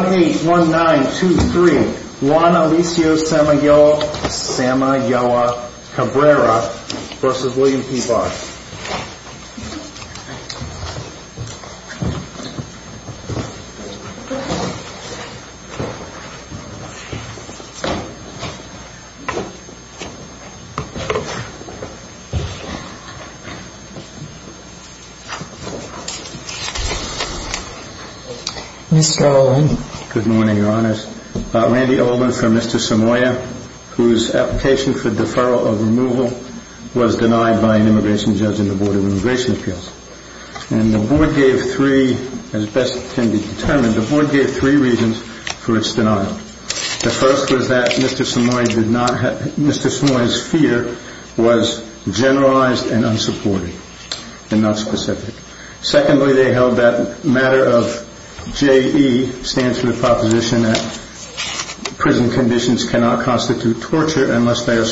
181923 Juan Alicio Samayoa Cabrera v. William P. Barr Mr. Olin. Good morning, Your Honours. Randy Olman from Mr. Samaya whose application for the Board of Immigration Appeals. And the Board gave three, as best can be determined, the Board gave three reasons for its denial. The first was that Mr. Samaya's fear was generalized and unsupported, and not specific. Secondly, they held that matter of J.E. stands for the proposition that prison conditions cannot constitute torture unless they are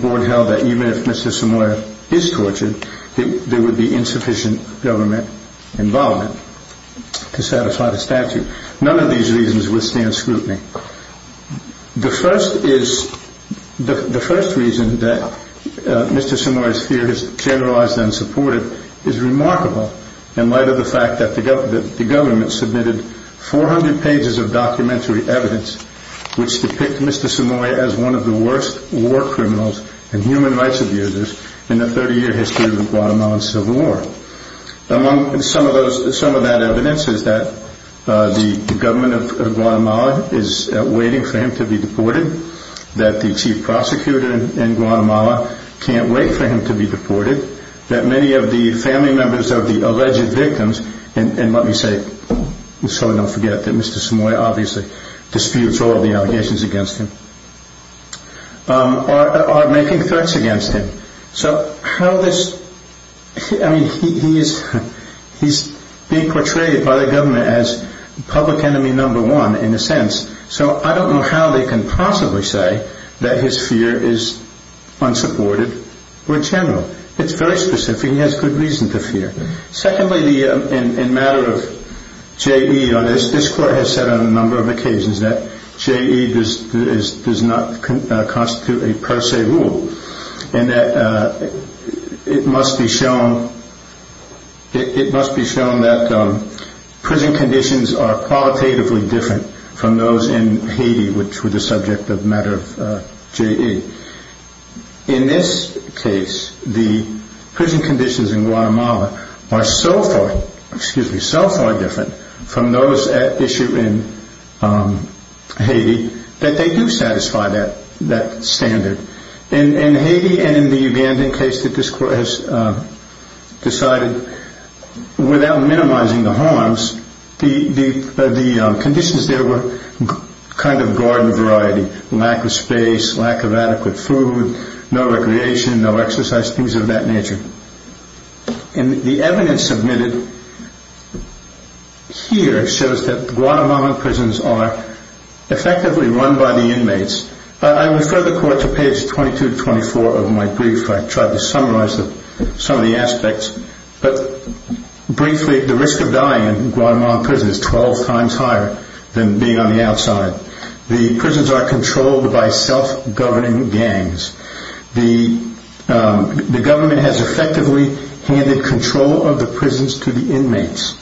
board held that even if Mr. Samaya is tortured, there would be insufficient government involvement to satisfy the statute. None of these reasons withstand scrutiny. The first reason that Mr. Samaya's fear is generalized and unsupported is remarkable in light of the fact that the government submitted 400 pages of documentary evidence which depict Mr. Samaya as one of the worst war criminals and human rights abusers in the 30 year history of the Guatemalan Civil War. Among some of that evidence is that the government of Guatemala is waiting for him to be deported, that the chief prosecutor in Guatemala can't wait for him to be deported, that many of the family members of the alleged victims, and let me say, so we don't forget that Mr. Samaya obviously disputes all of the allegations against him, are making threats against him. He is being portrayed by the government as public enemy number one in a sense, so I don't know how they can possibly say that his fear is unsupported or general. It's very specific, he has good reason to fear. Secondly, in matter of J.E. on this, this court has said on a number of occasions that J.E. does not constitute a per se rule and that it must be shown that prison conditions are qualitatively different from those in Haiti, that they do satisfy that standard. In Haiti and in the abandoned case that this court has decided, without minimizing the harms, the conditions there were kind of garden variety, lack of space, lack of adequate food, no recreation, no exercise, things of that nature. And the evidence submitted here shows that Guatemalan prisons are effectively run by the inmates. I refer the court to page 22-24 of my brief, I tried to summarize some of the aspects, but briefly, the risk of dying in Guatemalan prisons is 12 times higher than being on effectively handed control of the prisons to the inmates.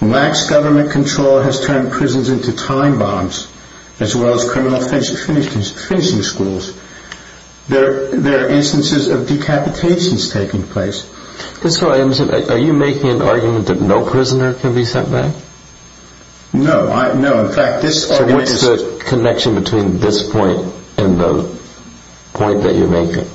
Lax government control has turned prisons into time bombs, as well as criminal finishing schools. There are instances of decapitations taking place. So are you making an argument that no prisoner can be sent back? No, in fact this... So what's the connection between this point and the point that you're making?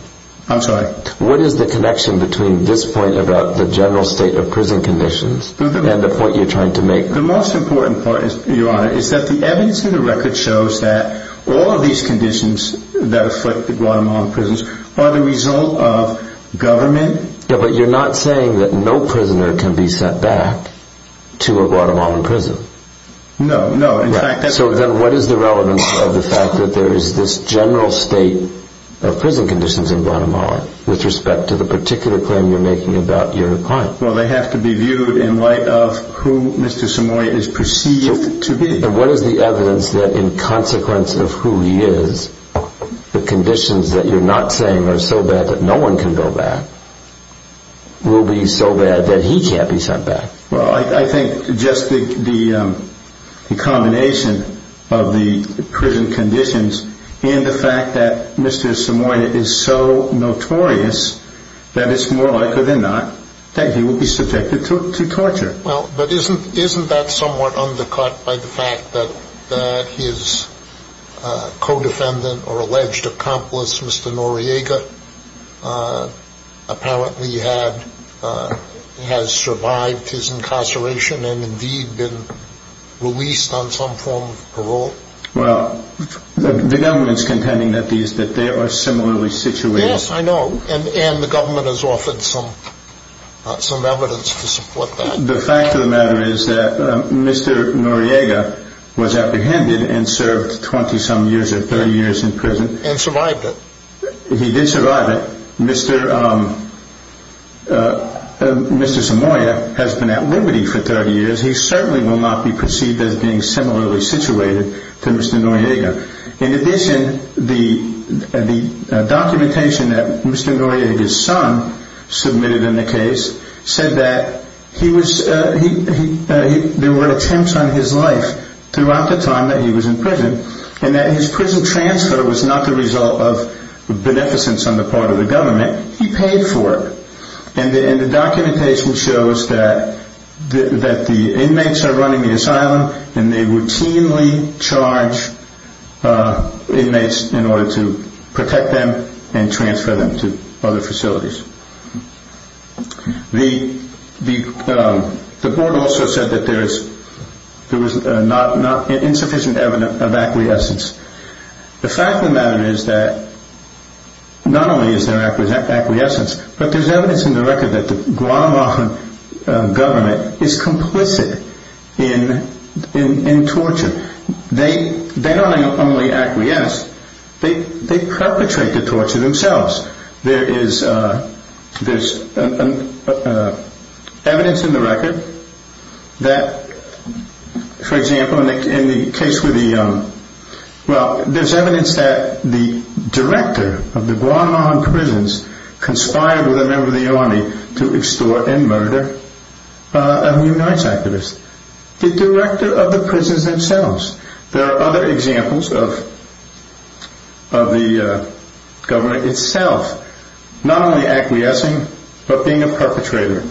I'm sorry? What is the connection between this point about the general state of prison conditions and the point you're trying to make? The most important part, Your Honor, is that the evidence in the record shows that all of these conditions that afflict the Guatemalan prisons are the result of government... Yeah, but you're not saying that no prisoner can be sent back to a Guatemalan prison. No, no, in fact... So then what is the relevance of the fact that there is this general state of prison conditions in Guatemala with respect to the particular claim you're making about your client? Well, they have to be viewed in light of who Mr. Samoy is perceived to be. And what is the evidence that in consequence of who he is, the conditions that you're not saying are so bad that no one can go back will be so bad that he can't be sent back? Well, I think just the combination of the prison conditions and the fact that Mr. Samoy is so notorious that it's more likely than not that he will be subjected to torture. Well, but isn't that somewhat undercut by the fact that his co-defendant or alleged accomplice, Mr. Noriega, apparently has survived his incarceration and indeed been released on some form of parole? Well, the government's contending that they are similarly situated. Yes, I know, and the government has offered some evidence to support that. The fact of the matter is that Mr. Noriega was apprehended and served 20-some years or 30 years in prison. And survived it. He did survive it. Mr. Samoy has been at liberty for 30 years. He certainly will not be perceived as being similarly situated to Mr. Noriega. In addition, the documentation that Mr. Noriega's son submitted in the case said that there were attempts on his life throughout the time that he was in prison and that his prison transfer was not the result of beneficence on the part of the government. He paid for it. And the documentation shows that the inmates are running the asylum and they routinely charge inmates in order to protect them and transfer them to other facilities. The board also said that there is insufficient evidence of acquiescence. The fact of the matter is that not only is there acquiescence, but there is evidence in the record that the Guam government is complicit in torture. They not only acquiesce, they perpetrate the torture themselves. There is evidence in the record that the director of the Guam prisons conspired with a member of the army to extort and murder a human rights activist. The director of the prisons themselves. There are other examples of the government itself not only acquiescing, but being a perpetrator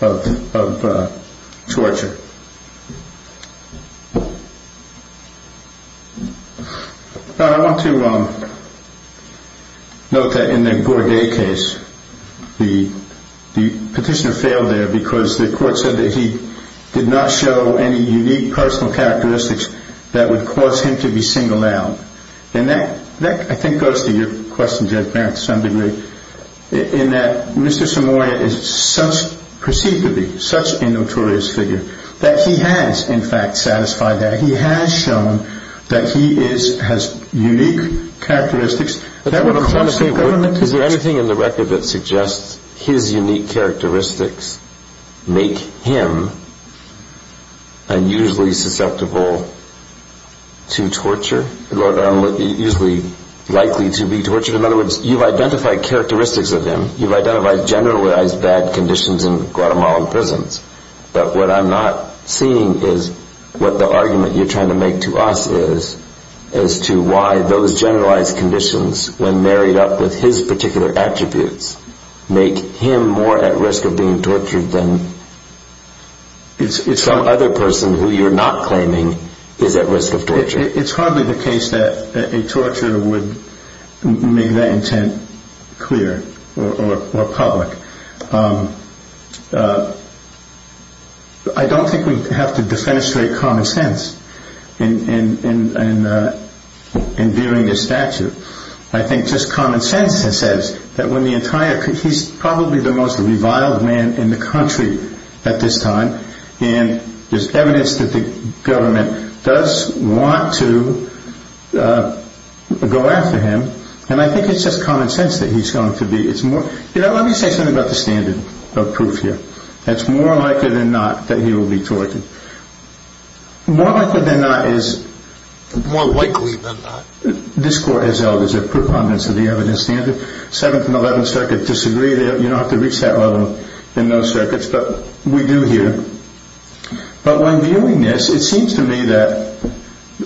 of torture. I want to note that in the Bourdais case, the petitioner failed there because the court said that he did not show any unique personal characteristics that would cause him to be singled out. And that I think goes to your question, Judge Barrett, to some degree. In that Mr. Somoya is perceived to be such a notorious figure that he has in fact satisfied that. He has shown that he has unique characteristics. Is there anything in the record that suggests his unique characteristics make him unusually susceptible to torture? Usually likely to be tortured? In other words, you've identified characteristics of him. You've identified generalized bad conditions in Guatemalan prisons. But what I'm not seeing is what the argument you're trying to make to us is as to why those generalized conditions when married up with his particular attributes make him more at risk of being tortured than some other person who you're not claiming is at risk of torture. It's hardly the case that a torture would make that intent clear or public. I don't think we have to defenestrate common sense in viewing this statute. I think just common sense says that he's probably the most reviled man in the country at this time. And there's evidence that the government does want to go after him. And I think it's just common sense that he's going to be. Let me say something about the standard of proof here. That it's more likely than not that he will be tortured. More likely than not is... More likely than not? This court has elders. They're preponderance of the evidence standard. 7th and 11th circuits disagree. You don't have to reach that level in those circuits. But we do here. But when viewing this, it seems to me that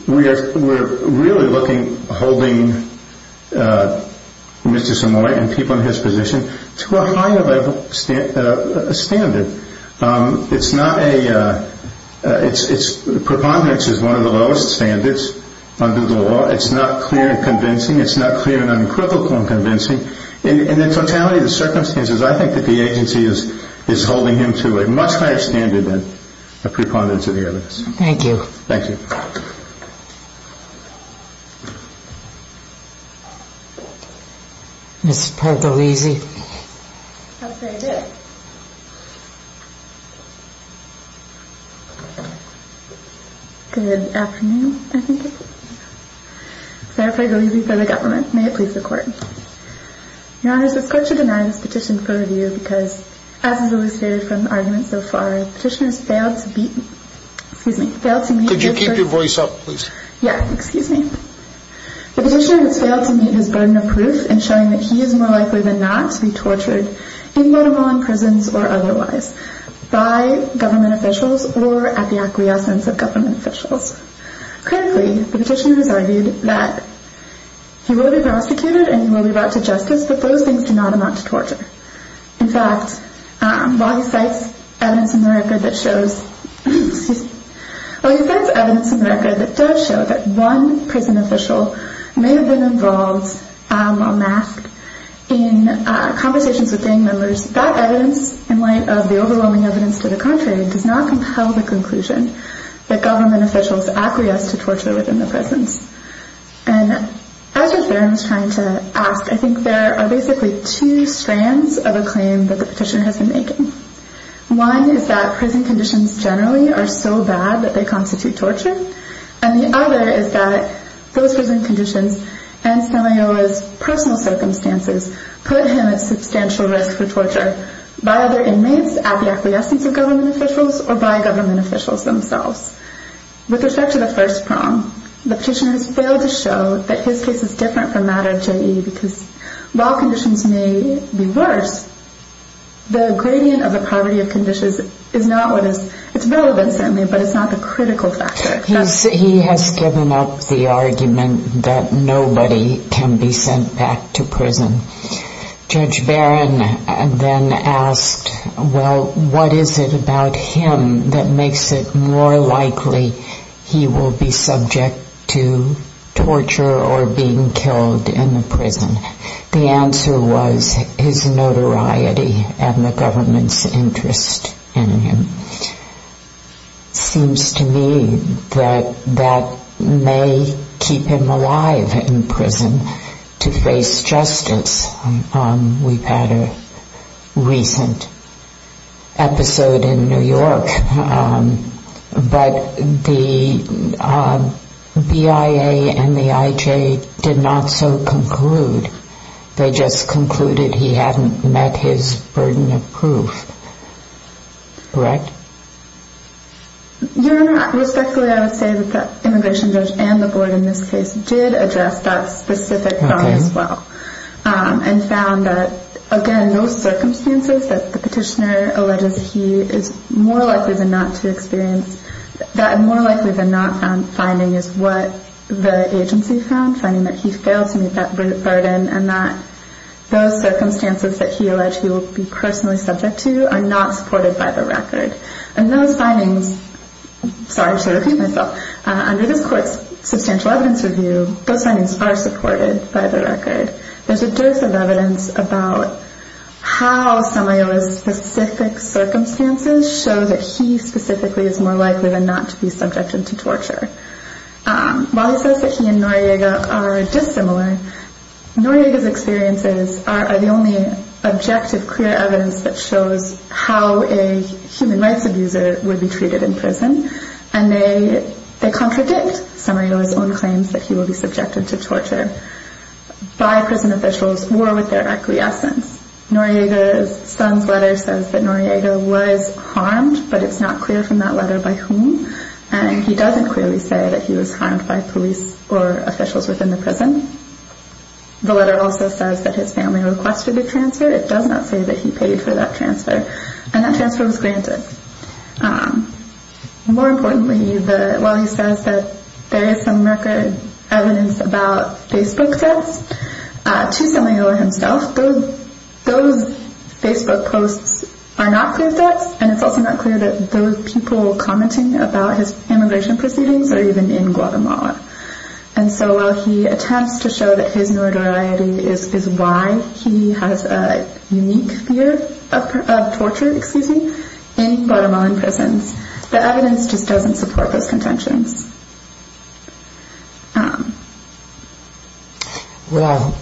we're really holding Mr. Samoy and people in his position to a higher level standard. It's not a... Preponderance is one of the lowest standards under the law. It's not clear and convincing. It's not clear and unequivocal and convincing. In the totality of the circumstances, I think that the agency is holding him to a much higher standard than a preponderance of the evidence. Thank you. Thank you. Ms. Pargolesi. I'll say a bit. Good afternoon, I think. Sarah Pargolesi for the government. May it please the court. Your Honor, this court should deny this petition for review because as has always faded from the argument so far, the petitioner has failed to beat... Excuse me. Could you keep your voice up, please? Yeah. Excuse me. The petitioner has failed to meet his burden of proof in showing that he is more likely than not to be tortured, even while in prisons or otherwise, by government officials or at the acquiescence of government officials. Currently, the petitioner has argued that he will be prosecuted and he will be brought to justice, but those things do not amount to torture. In fact, while he cites evidence in the record that does show that one prison official may have been involved or masked in conversations with gang members, that evidence, in light of the overwhelming evidence to the contrary, does not compel the conclusion that government officials acquiesce to torture within the prisons. And as I was trying to ask, I think there are basically two strands of a claim that the petitioner has been making. One is that prison conditions generally are so bad that they constitute torture. And the other is that those prison conditions and Stanley Ola's personal circumstances put him at substantial risk for torture by other inmates, at the acquiescence of government officials, or by government officials themselves. With respect to the first prong, the petitioner has failed to show that his case is different from that of J.E. because while conditions may be worse, the gradient of the poverty of conditions is not what is, it's relevant certainly, but it's not the critical factor. He has given up the argument that nobody can be sent back to prison. Judge Barron then asked, well, what is it about him that makes it more likely he will be subject to torture or being killed in the prison? The answer was his notoriety and the government's interest in him. It seems to me that that may keep him alive in prison to face justice. We've had a recent episode in New York, but the BIA and the IJ did not so conclude, they just concluded he hadn't met his burden of proof, correct? Your Honor, respectfully, I would say that the immigration judge and the board in this case did address that specific problem as well, and found that, again, those circumstances that the petitioner alleges he is more likely than not to experience, that more likely than not finding is what the agency found, finding that he failed to meet that burden, and that those circumstances that he alleged he will be personally subject to are not supported by the record. And those findings, sorry to repeat myself, under this court's substantial evidence review, those findings are supported by the record. There's a dose of evidence about how Samuel's specific circumstances show that he specifically is more likely than not to be subjected to torture. While he says that he and Noriega are dissimilar, Noriega's experiences are the only objective clear evidence that shows how a human rights abuser would be treated in prison, and they contradict Samarito's own claims that he will be subjected to torture by prison officials or with their acquiescence. Noriega's son's letter says that Noriega was harmed, but it's not clear from that letter by whom, and he doesn't clearly say that he was harmed by police or officials within the prison. The letter also says that his family requested a transfer. It does not say that he paid for that transfer, and that transfer was granted. More importantly, while he says that there is some record evidence about Facebook debts, to Samuel himself, those Facebook posts are not clear debts, and it's also not clear that those people commenting about his immigration proceedings are even in Guatemala. And so while he attempts to show that his notoriety is why he has a unique fear of torture in Guatemalan prisons, the evidence just doesn't support those contentions. Well,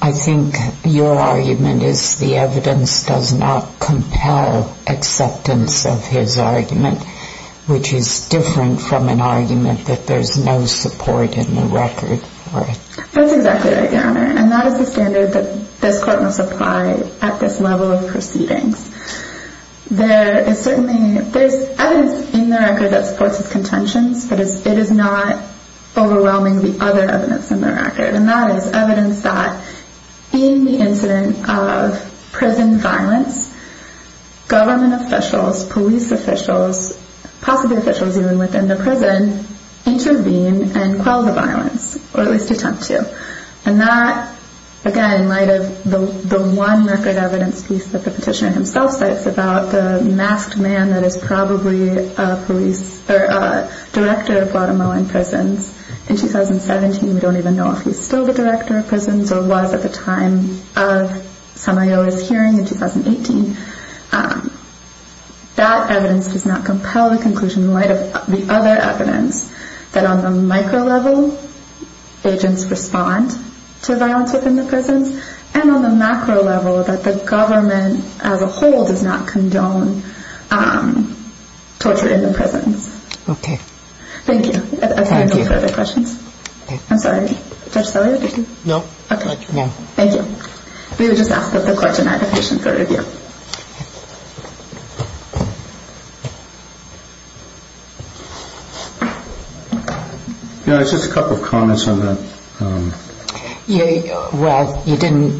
I think your argument is the evidence does not compel acceptance of his argument, which is different from an argument that there's no support in the record for it. That's exactly right, Your Honor, and that is the standard that this court must apply at this level of proceedings. There is evidence in the record that supports his contentions, but it is not overwhelming the other evidence in the record, and that is evidence that in the incident of prison violence, government officials, police officials, possibly officials even within the prison, intervene and quell the violence, or at least attempt to. And that, again, in light of the one record evidence piece that the petitioner himself cites about the masked man that is probably a police, or a director of Guatemalan prisons in 2017, we don't even know if he's still the director of prisons or was at the time of Samuel's hearing in 2018. That evidence does not compel the conclusion, in light of the other evidence, that on the micro level, agents respond to violence within the prisons, and on the macro level, that the government as a whole does not condone torture in the prisons. Okay. Thank you. Thank you. Any further questions? I'm sorry. Judge Sellier, did you? No. Okay. Thank you. We would just ask that the court deny the petition for review. You know, it's just a couple of comments on the... Well, you didn't...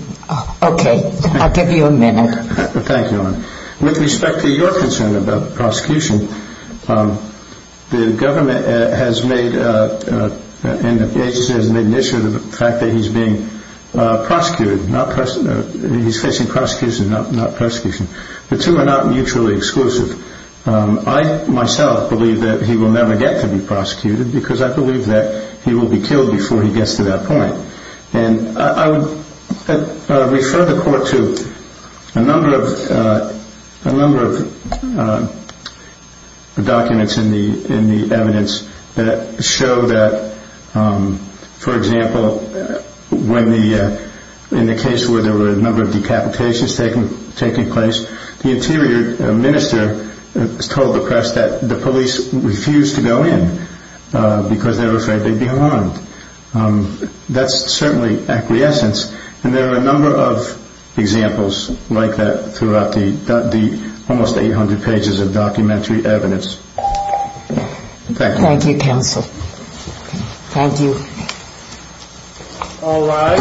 Okay. I'll give you a minute. Thank you. With respect to your concern about prosecution, the government has made, and the agency has made an issue of the fact that he's being prosecuted, he's facing prosecution, not persecution. The two are not mutually exclusive. I, myself, believe that he will never get to be prosecuted because I believe that he will be killed before he gets to that point. And I would refer the court to a number of documents in the evidence that show that, for example, in the case where there were a number of decapitations taking place, the interior minister told the press that the police refused to go in because they were afraid they'd be harmed. That's certainly acquiescence. And there are a number of examples like that throughout the almost 800 pages of documentary evidence. Thank you. Thank you, counsel. Thank you. All rise.